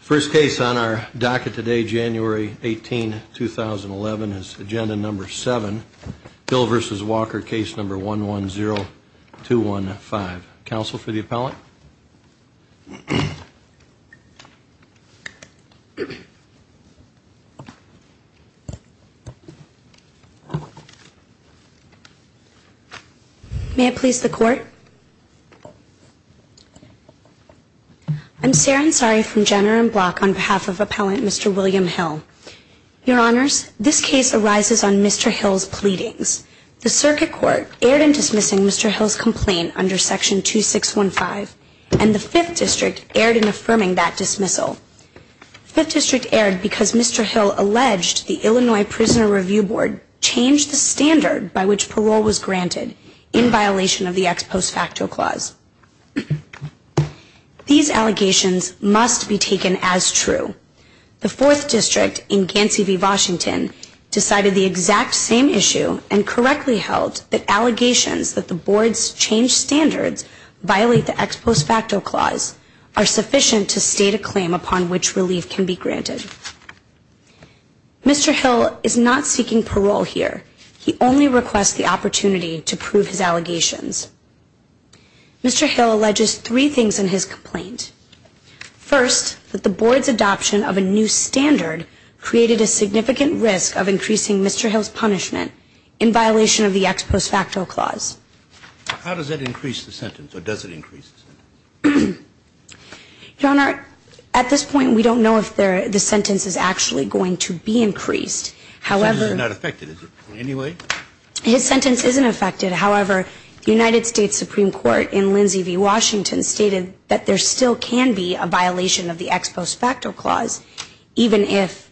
First case on our docket today, January 18, 2011, is agenda number seven, Hill v. Walker, case number 110215. Counsel for the appellant? May I please the court? I'm Sarah Ansari from Jenner and Block on behalf of appellant Mr. William Hill. Your Honors, this case arises on Mr. Hill's pleadings. The circuit court erred in dismissing Mr. Hill's complaint under Section 2615, and the Fifth District erred in affirming that dismissal. The Fifth District erred because Mr. Hill alleged the Illinois Prisoner Review Board changed the standard by which parole was granted in violation of the ex post facto clause. These allegations must be taken as true. The Fourth District in Gansey v. Washington decided the exact same issue and correctly held that allegations that the board's changed standards violate the ex post facto clause are sufficient to state a claim upon which relief can be granted. Mr. Hill is not seeking parole here. He only requests the opportunity to prove his allegations. Mr. Hill alleges three things in his complaint. First, that the board's adoption of a new standard created a significant risk of increasing Mr. Hill's punishment in violation of the ex post facto clause. How does that increase the sentence, or does it increase the sentence? Your Honor, at this point we don't know if the sentence is actually going to be increased. So it's not affected, is it, in any way? His sentence isn't affected. However, the United States Supreme Court in Lindsay v. Washington stated that there still can be a violation of the ex post facto clause even if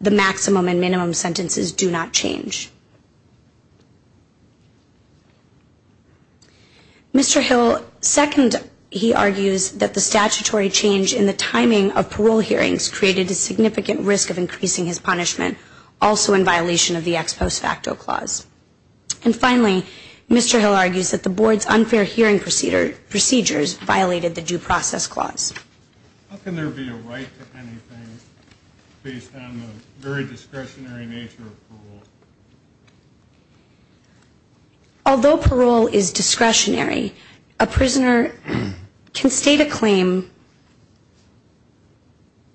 the maximum and minimum sentences do not change. Mr. Hill, second, he argues that the statutory change in the timing of parole hearings created a significant risk of increasing his punishment, also in violation of the ex post facto clause. And finally, Mr. Hill argues that the board's unfair hearing procedures violated the due process clause. How can there be a right to anything based on the very discretionary nature of parole? Although parole is discretionary, a prisoner can state a claim.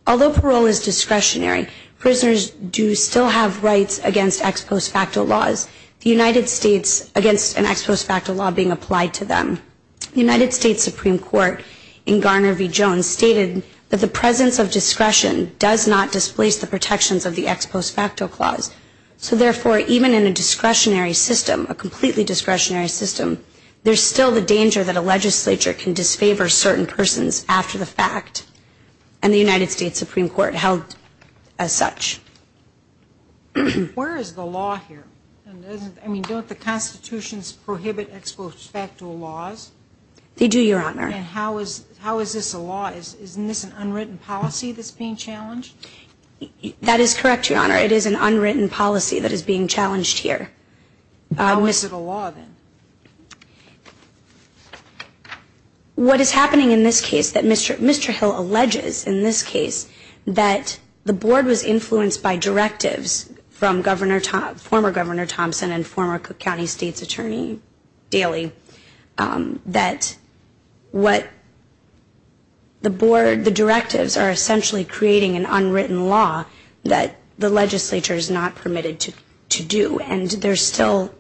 Although parole is discretionary, prisoners do still have rights against ex post facto laws, the United States against an ex post facto law being applied to them. The United States Supreme Court in Garner v. Jones stated that the presence of discretion does not displace the protections of the ex post facto clause. So therefore, even in a discretionary system, a completely discretionary system, there's still the danger that a legislature can disfavor certain persons after the fact. And the United States Supreme Court held as such. Where is the law here? I mean, don't the constitutions prohibit ex post facto laws? They do, Your Honor. And how is this a law? Isn't this an unwritten policy that's being challenged? That is correct, Your Honor. It is an unwritten policy that is being challenged here. How is it a law, then? What is happening in this case, Mr. Hill alleges in this case that the board was influenced by directives from former Governor Thompson and former Cook County State's Attorney Daley, that what the board, the directives are essentially creating an unwritten law that the legislature is not permitted to do. And they're still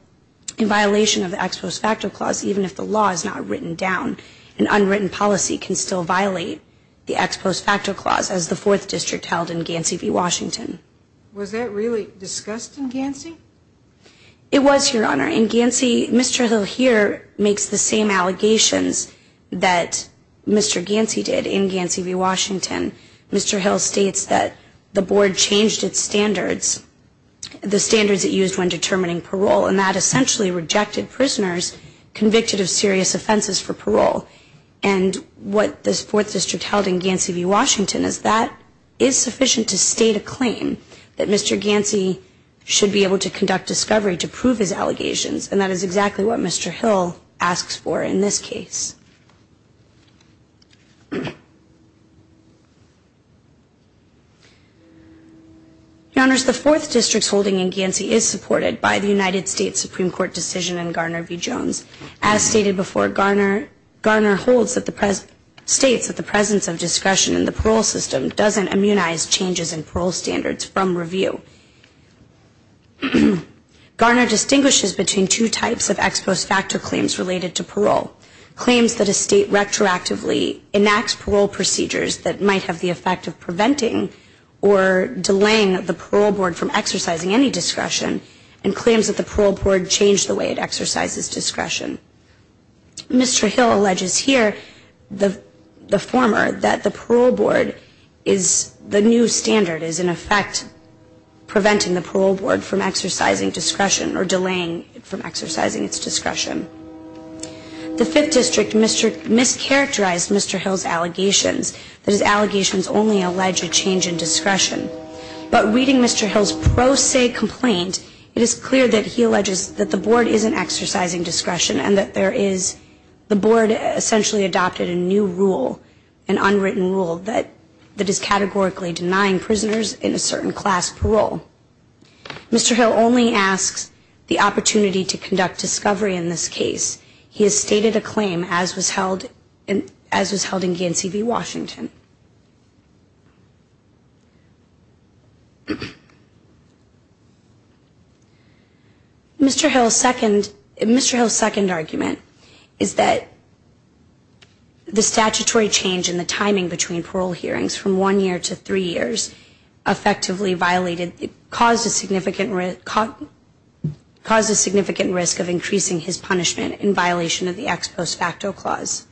in violation of the ex post facto clause, even if the law is not written down. An unwritten policy can still violate the ex post facto clause, as the Fourth District held in Gansey v. Washington. Was that really discussed in Gansey? It was, Your Honor. In Gansey, Mr. Hill here makes the same allegations that Mr. Gansey did in Gansey v. Washington. Mr. Hill states that the board changed its standards, the standards it used when determining parole, and that essentially rejected prisoners convicted of serious offenses for parole. And what this Fourth District held in Gansey v. Washington is that is sufficient to state a claim that Mr. Gansey should be able to conduct discovery to prove his allegations, and that is exactly what Mr. Hill asks for in this case. Your Honors, the Fourth District's holding in Gansey is supported by the United States Supreme Court decision in Garner v. Jones. As stated before, Garner holds that the, states that the presence of discretion in the parole system doesn't immunize changes in parole standards from review. Garner distinguishes between two types of ex post facto claims related to parole. Claims that a state retroactively enacts parole procedures that might have the effect of preventing or delaying the parole board from exercising any discretion, and claims that the parole board changed the way it exercises discretion. Mr. Hill alleges here, the former, that the parole board is the new standard, is in effect preventing the parole board from exercising discretion or delaying it from exercising its discretion. The Fifth District mischaracterized Mr. Hill's allegations, that his allegations only allege a change in discretion. But reading Mr. Hill's pro se complaint, it is clear that he alleges that the board isn't exercising discretion and that there is, the board essentially adopted a new rule, an unwritten rule, that is categorically denying prisoners in a certain class parole. Mr. Hill only asks the opportunity to conduct discovery in this case. He has stated a claim as was held in GNCV Washington. Mr. Hill's second, Mr. Hill's second argument is that the statutory change in the timing between parole hearings from one year to three years effectively violated, caused a significant risk, caused a significant risk of increasing his punishment in violation of the ex post facto clause.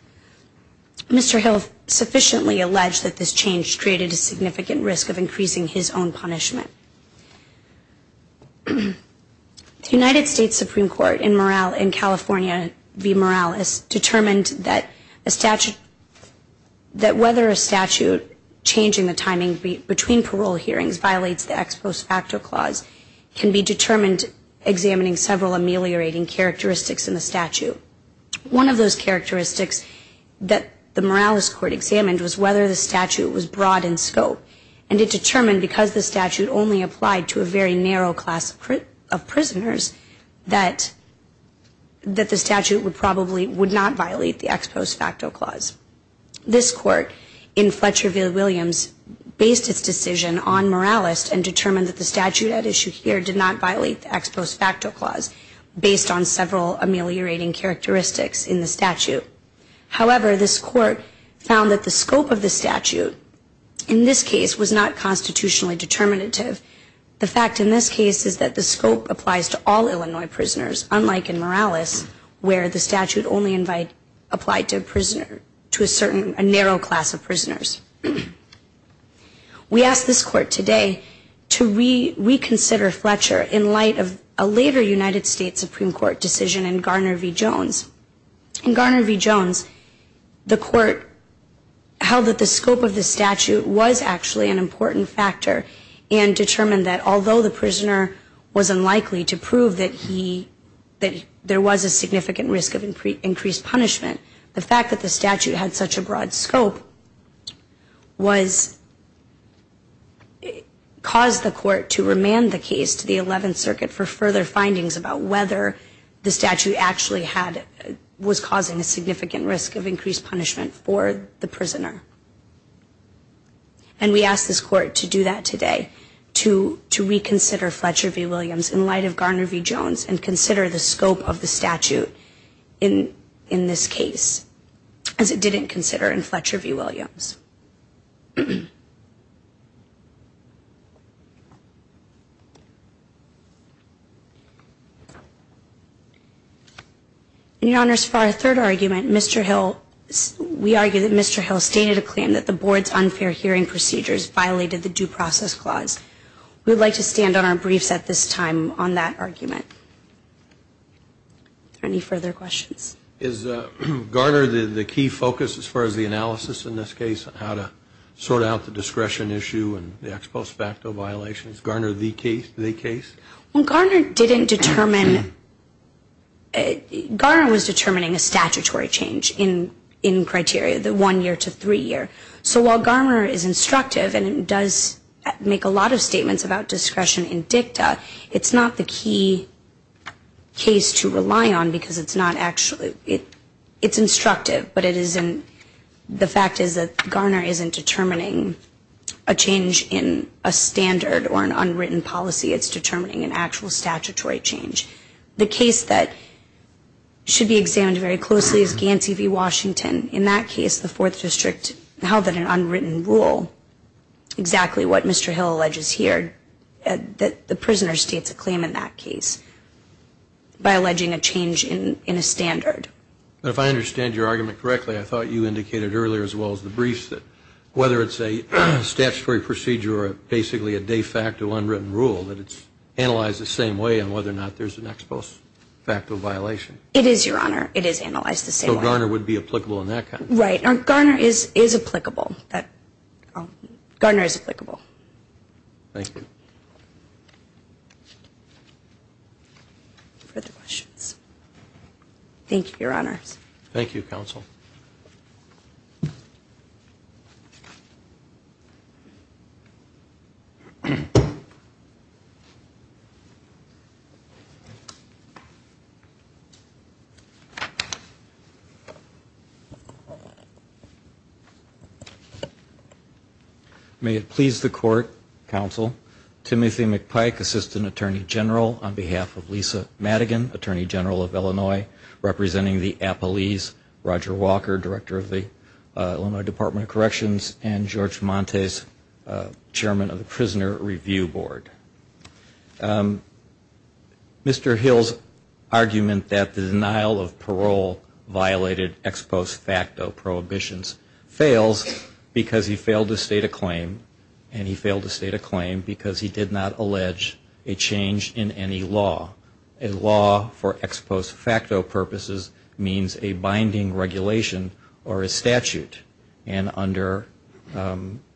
Mr. Hill sufficiently alleged that this change created a significant risk of increasing his own punishment. The United States Supreme Court in California v. Morales determined that a statute, that whether a statute changing the timing between parole hearings violates the ex post facto clause can be determined examining several ameliorating characteristics in the statute. One of those characteristics that the Morales court examined was whether the statute was broad in scope and it determined because the statute only applied to a very narrow class of prisoners that the statute would probably, would not violate the ex post facto clause. This court in Fletcher v. Williams based its decision on Morales and determined that the statute at issue here did not violate the ex post facto clause based on several ameliorating characteristics in the statute. However, this court found that the scope of the statute in this case was not constitutionally determinative. The fact in this case is that the scope applies to all Illinois prisoners unlike in Morales where the statute only applied to a prisoner, to a certain, a narrow class of prisoners. We ask this court today to reconsider Fletcher in light of a later United States Supreme Court decision in Garner v. Jones. In Garner v. Jones the court held that the scope of the statute was actually an important factor and determined that although the prisoner was unlikely to prove that he, that there was a significant risk of increased punishment, the fact that the statute had such a broad scope was, caused the court to remand the case to the 11th Circuit for further findings about whether the statute actually had, was causing a significant risk of increased punishment for the prisoner. And we ask this court to do that today, to reconsider Fletcher v. Williams in light of Garner v. Jones and consider the scope of the statute in this case as it didn't consider in Fletcher v. Williams. In your honors, for our third argument, Mr. Hill, we argue that Mr. Hill stated a claim that the board's unfair hearing procedures violated the due process clause. We would like to stand on our briefs at this time on that argument. Any further questions? Is Garner the key focus as far as the analysis in this case on how to sort out the discretion issue and the ex post facto violations? Is Garner the case? Well, Garner didn't determine, Garner was determining a statutory change in criteria, the one year to three year. So while Garner is instructive and does make a lot of statements about discretion in dicta, it's not the key case to rely on because it's not actually, it's instructive, but it isn't, the fact is that Garner isn't determining a change in a standard or an unwritten policy, it's determining an actual statutory change. The case that should be examined very closely is Gansey v. Washington. In that case, the fourth district held that an unwritten rule, exactly what Mr. Hill alleges here, that the prisoner states a claim in that case by alleging a change in a standard. If I understand your argument correctly, I thought you indicated earlier as well as the briefs that whether it's a statutory procedure or basically a de facto unwritten rule that it's analyzed the same way on whether or not there's an ex post facto violation. It is, Your Honor. It is analyzed the same way. So Garner would be applicable in that case? Right. Garner is applicable. Thank you. Further questions? Thank you, Your Honor. Thank you, Counsel. May it please the Court, Counsel, Timothy McPike, Assistant Attorney General, on behalf of Lisa Madigan, Attorney General of Illinois, representing the appellees, Roger Walker, Director of the Illinois Department of Corrections, and George Montes, Chairman of the Prisoner Review Board. Mr. Hill's argument that the denial of parole violated ex post facto prohibitions fails because he failed to state a claim, and he failed to state a claim because he did not allege a change in any law. The law for ex post facto purposes means a binding regulation or a statute, and under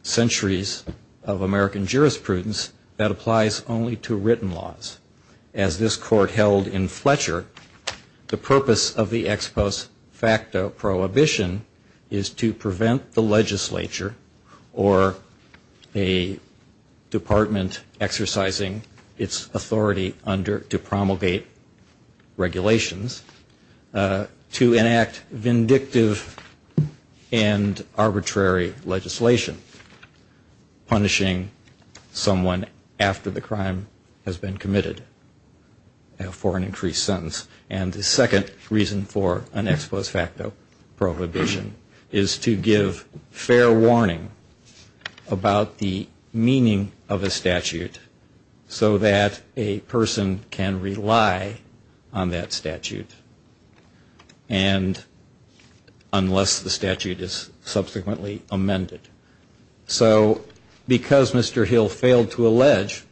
centuries of American jurisprudence, that applies only to written laws. As this Court held in Fletcher, the purpose of the ex post facto prohibition is to prevent the legislature or a department exercising its authority under, to promulgate regulations, to enact vindictive and arbitrary legislation punishing someone after the crime has been committed for an increased sentence. And the second reason for an ex post facto prohibition is to give fair warning about the meaning of a statute so that a person can be released from prison. And a person can rely on that statute, and unless the statute is subsequently amended. So because Mr. Hill failed to allege,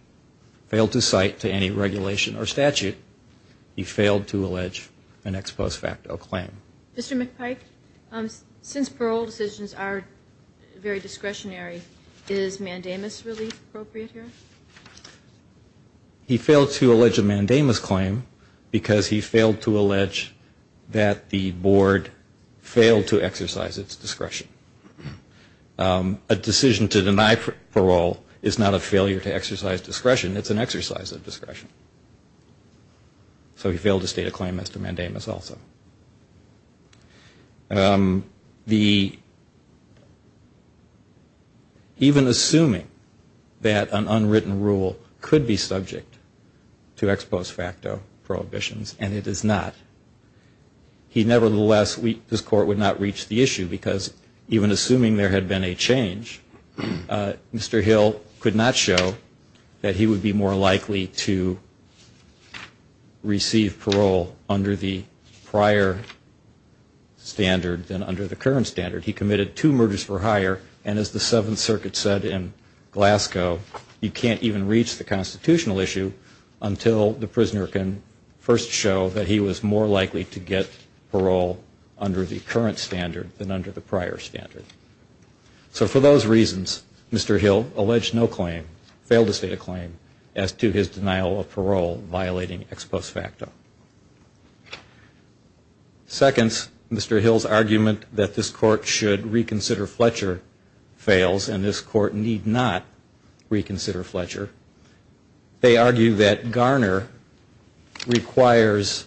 failed to cite to any regulation or statute, he failed to allege an ex post facto claim. Mr. McPike, since parole decisions are very discretionary, is mandamus really appropriate here? He failed to allege a mandamus claim because he failed to allege that the board failed to exercise its discretion. A decision to deny parole is not a failure to exercise discretion, it's an exercise of discretion. So he failed to state a claim as to mandamus also. The, even assuming that an unwritten rule could be subject to ex post facto prohibitions, and it is not. He nevertheless, this court would not reach the issue because even assuming there had been a change, Mr. Hill could not show that he would be more standard than under the current standard. He committed two murders for hire, and as the Seventh Circuit said in Glasgow, you can't even reach the constitutional issue until the prisoner can first show that he was more likely to get parole under the current standard than under the prior standard. So for those reasons, Mr. Hill alleged no claim, failed to state a claim, as to his denial of parole violating ex post facto. Second, Mr. Hill's argument that this court should reconsider Fletcher fails, and this court need not reconsider Fletcher. They argue that Garner requires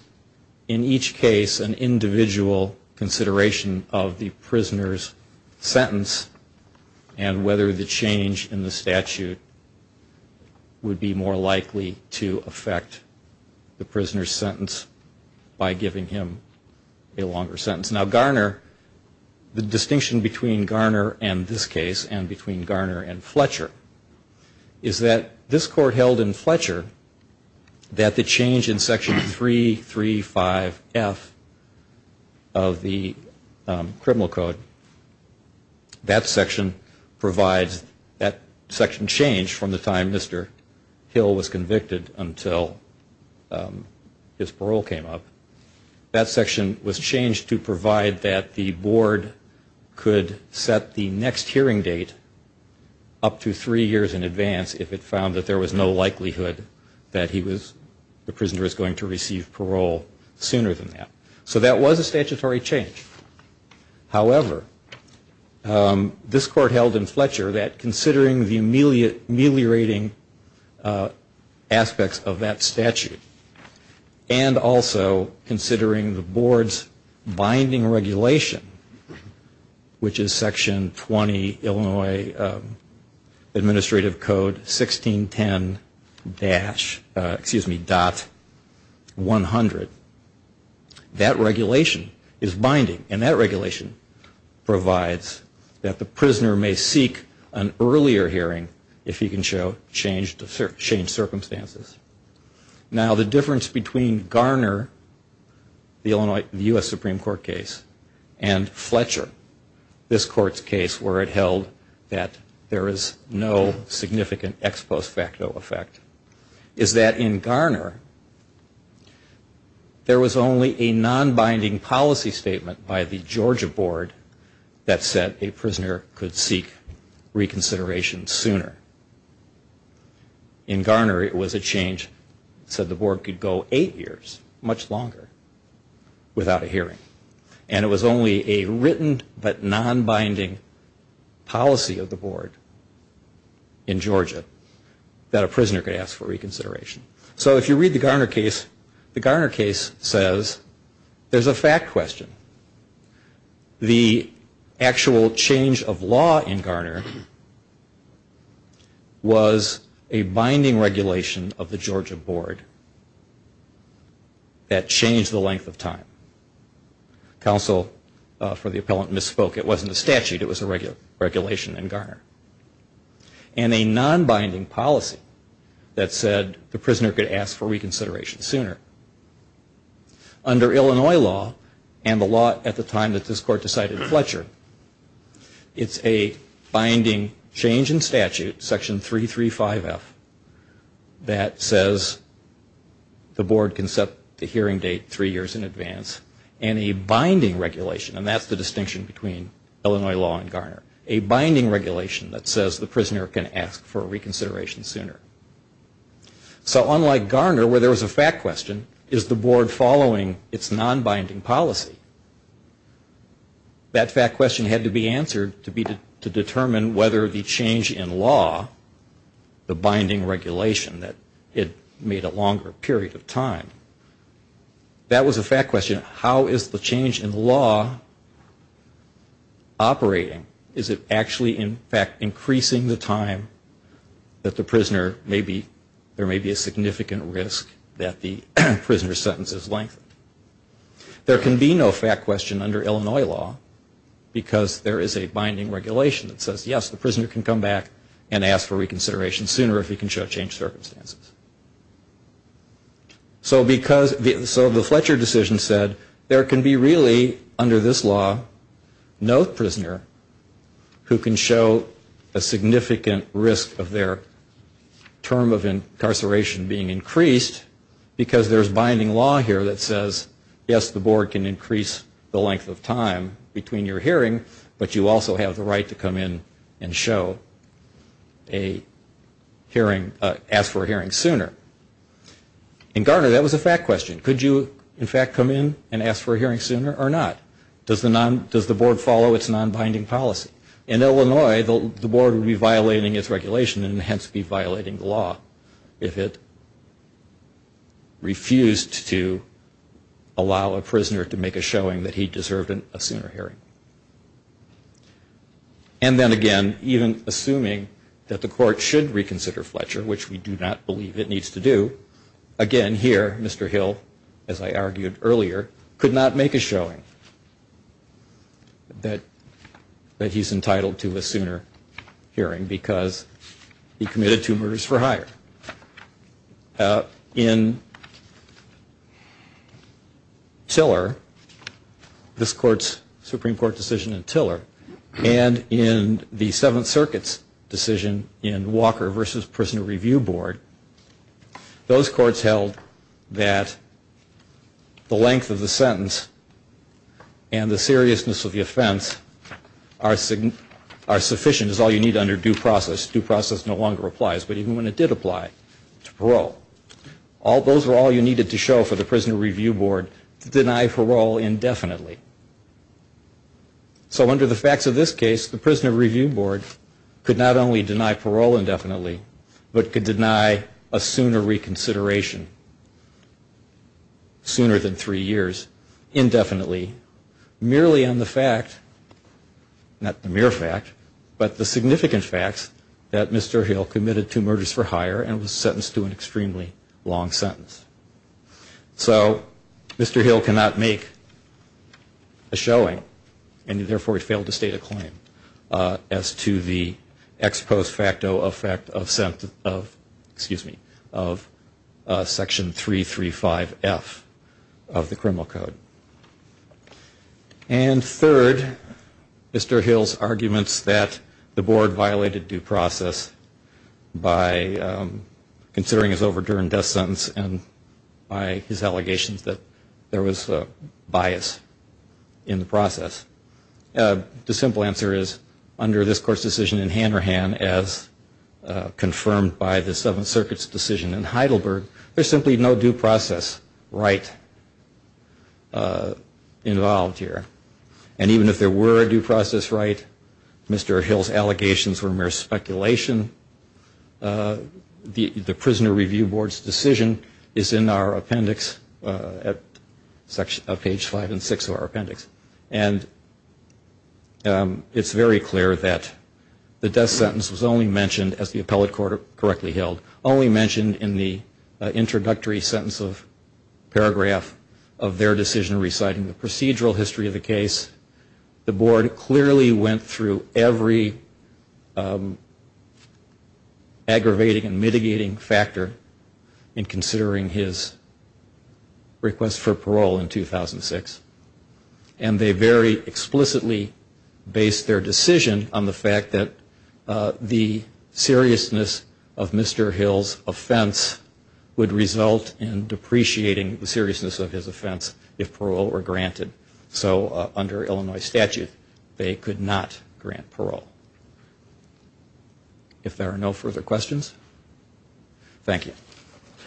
in each case an individual consideration of the prisoner's sentence, and whether the change in the statute would be more appropriate to the prisoner's sentence by giving him a longer sentence. Now Garner, the distinction between Garner and this case, and between Garner and Fletcher, is that this court held in Fletcher that the change in section 335F of the criminal code, that section provides, that section changed from the time Mr. Hill was convicted until his parole came up, that section was changed to provide that the board could set the next hearing date up to three years in advance, if it found that there was no likelihood that he was, the prisoner was going to receive parole sooner than that. So that was a statutory change. However, this court held in Fletcher that considering the ameliorating aspects of that statute, and also considering the board's binding regulation, which is section 20 Illinois Administrative Code 1610- excuse me, dot 100, that regulation is binding. And that regulation provides that the prisoner may receive parole an earlier hearing if he can show changed circumstances. Now the difference between Garner, the U.S. Supreme Court case, and Fletcher, this court's case where it held that there is no significant ex post facto effect, is that in Garner there was only a non-binding policy statement by the Georgia board that said a prisoner could ask for reconsideration sooner. In Garner it was a change that said the board could go eight years, much longer, without a hearing. And it was only a written but non-binding policy of the board in Georgia that a prisoner could ask for reconsideration. So if you read the Garner case, the Garner case says there's a fact question. The actual change of law in Garner was a binding regulation of the Georgia board that changed the length of time. Council for the appellant misspoke. It wasn't a statute. It was a regulation in Garner. And a non-binding policy that said the prisoner could ask for reconsideration sooner. Under Illinois law, and the law at the time that this court decided Fletcher, it's a binding change in statute, section 335F, that says the board can set the hearing date three years in advance. And a binding regulation, and that's the distinction between Illinois law and Garner, a binding regulation that says the prisoner can ask for reconsideration sooner. So unlike Garner where there was a fact question, there was a non-binding question. Is the board following its non-binding policy? That fact question had to be answered to determine whether the change in law, the binding regulation, that it made a longer period of time. That was a fact question. How is the change in law operating? Is it actually, in fact, increasing the time that the prisoner may be, there may be a significant risk that the prisoner may be released? And that was a fact question. Prisoner sentences lengthened. There can be no fact question under Illinois law because there is a binding regulation that says, yes, the prisoner can come back and ask for reconsideration sooner if he can show changed circumstances. So because, so the Fletcher decision said, there can be really, under this law, no prisoner who can show a significant risk of their term of incarceration being increased because there is binding law here that says, yes, the board can increase the length of time between your hearing, but you also have the right to come in and show a hearing, ask for a hearing sooner. In Garner, that was a fact question. Could you, in fact, come in and ask for a hearing sooner or not? Does the board follow its non-binding policy? In Illinois, the board would be violating its regulation and hence be refused to allow a prisoner to make a showing that he deserved a sooner hearing. And then again, even assuming that the court should reconsider Fletcher, which we do not believe it needs to do, again, here, Mr. Hill, as I argued earlier, could not make a showing that he's entitled to a sooner hearing because he committed two murders for hire. In Garner, the board would be violating its non-binding policy. In Tiller, this court's Supreme Court decision in Tiller, and in the Seventh Circuit's decision in Walker v. Prison Review Board, those courts held that the length of the sentence and the seriousness of the offense are sufficient, is all you need under due process. Due process no longer applies. And in Garner, the board would deny parole. Those are all you needed to show for the Prisoner Review Board to deny parole indefinitely. So under the facts of this case, the Prisoner Review Board could not only deny parole indefinitely, but could deny a sooner reconsideration, sooner than three years, indefinitely, merely on the fact, not the mere fact, but the significant facts, that Mr. Hill committed two murders for hire and was sentenced to an extremely long sentence. So Mr. Hill cannot make a showing, and therefore he failed to state a claim, as to the ex post facto effect of section 335F of the criminal code. And third, Mr. Hill's arguments that the board violated due process by considering his overdue and death sentence, and by his allegations that there was a bias in the process. The simple answer is, under this court's decision in Hanrahan, as confirmed by the Seventh Circuit's decision in Heidelberg, there's simply no due process right involved here. And even if there were a due process right, Mr. Hill's allegations were mere speculations. And the court's decision in Heidelberg, under the circumstances of this violation, the Prisoner Review Board's decision is in our appendix, at page five and six of our appendix. And it's very clear that the death sentence was only mentioned, as the appellate court correctly held, only mentioned in the introductory sentence of paragraph of their decision reciting the procedural history of the case. The board clearly went through every step of the way, including aggravating and mitigating factor in considering his request for parole in 2006. And they very explicitly based their decision on the fact that the seriousness of Mr. Hill's offense would result in depreciating the seriousness of his offense if parole were granted. So under Illinois statute, they could not grant parole. If there are no further questions, thank you.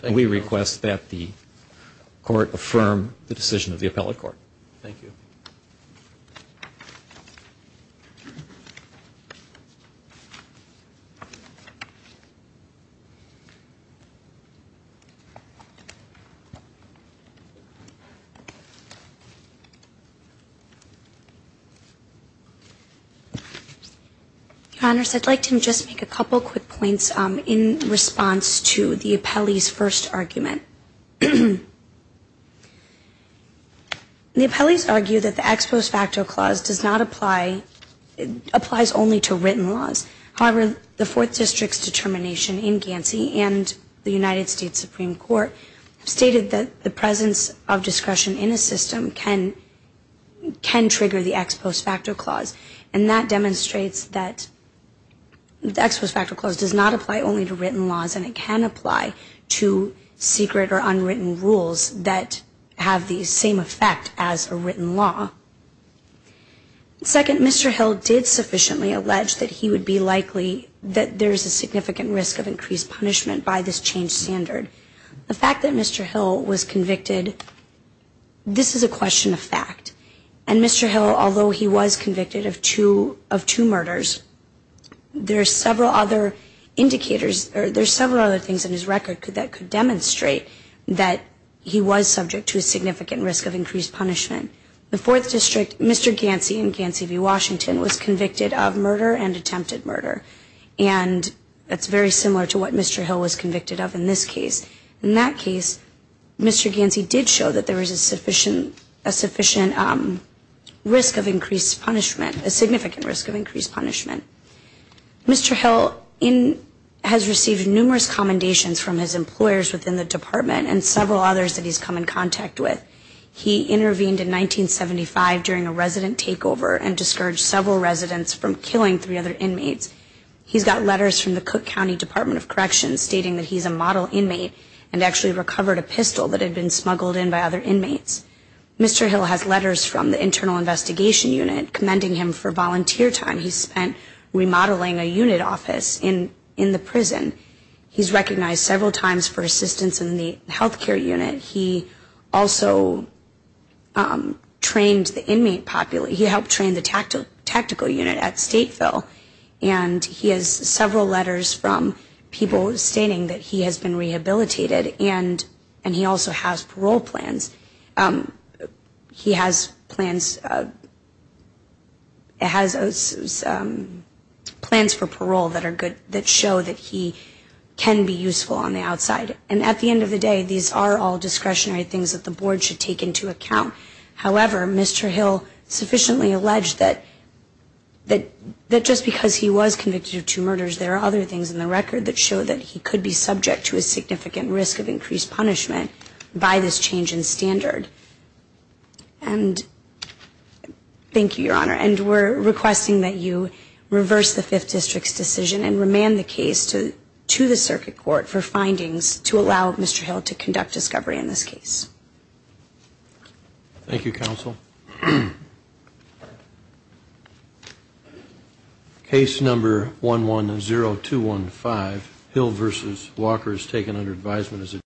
And we request that the court affirm the decision of the appellate court. Thank you. I'd like to just make a couple quick points in response to the appellee's first argument. The appellee's argued that the appellee's first argument is that the ex post facto clause does not apply, applies only to written laws. However, the fourth district's determination in Gansey and the United States Supreme Court stated that the presence of discretion in a system can, can trigger the ex post facto clause. And that demonstrates that the ex post facto clause does not apply only to written laws, and it can apply to secret or non-written laws. Second, Mr. Hill did sufficiently allege that he would be likely, that there's a significant risk of increased punishment by this changed standard. The fact that Mr. Hill was convicted, this is a question of fact. And Mr. Hill, although he was convicted of two, of two murders, there are several other indicators, or there are several other things in his record that could demonstrate that he was subject to a significant risk of increased punishment. The fourth district's determination in Gansey and the United States Supreme Court stated that the ex post facto clause does not apply, applies only to written laws, and it can trigger the ex post facto clause. The fifth district, Mr. Gansey in Gansey v. Washington was convicted of murder and attempted murder. And that's very similar to what Mr. Hill was convicted of in this case. In that case, Mr. Gansey did show that there was a sufficient, a sufficient risk of increased punishment, a significant risk of increased punishment. Mr. Hill in, has received numerous commendations from his employers within the department and several others that he's come in contact with. He intervened in 1975 during a resident takeover and discouraged several residents from killing three other inmates. He's got letters from the Cook County Department of Corrections stating that he's a model inmate and actually recovered a pistol that had been smuggled in by other inmates. Mr. Hill has letters from the Internal Investigation Unit commending him for volunteer time he spent remodeling a unit office in, in the prison. He's recognized several times for assistance in the health care unit. He also trained the inmate, he helped train the tactical unit at Stateville. And he has several letters from people stating that he has been rehabilitated and he also has parole plans. He has plans, has plans for parole that are good for him. And he has several letters from people stating that he has been rehabilitated and he has parole plans for parole that are that show that he can be useful on the outside. And at the end of the day, these are all discretionary things that the Board should take into account. However, Mr. Hill sufficiently alleged that, that just because he was convicted of two murders, there are other things in the record that show that he could be subject to a significant risk of increased punishment by this change in standard. And thank you, Your Honor. And we're requesting that you reverse the fifth district's decision and remand the case to the circuit court for findings to allow Mr. Hill to conduct discovery in this case. Thank you, counsel. Case number 110215, Hill v. Walker is taken under advisement as a defendant.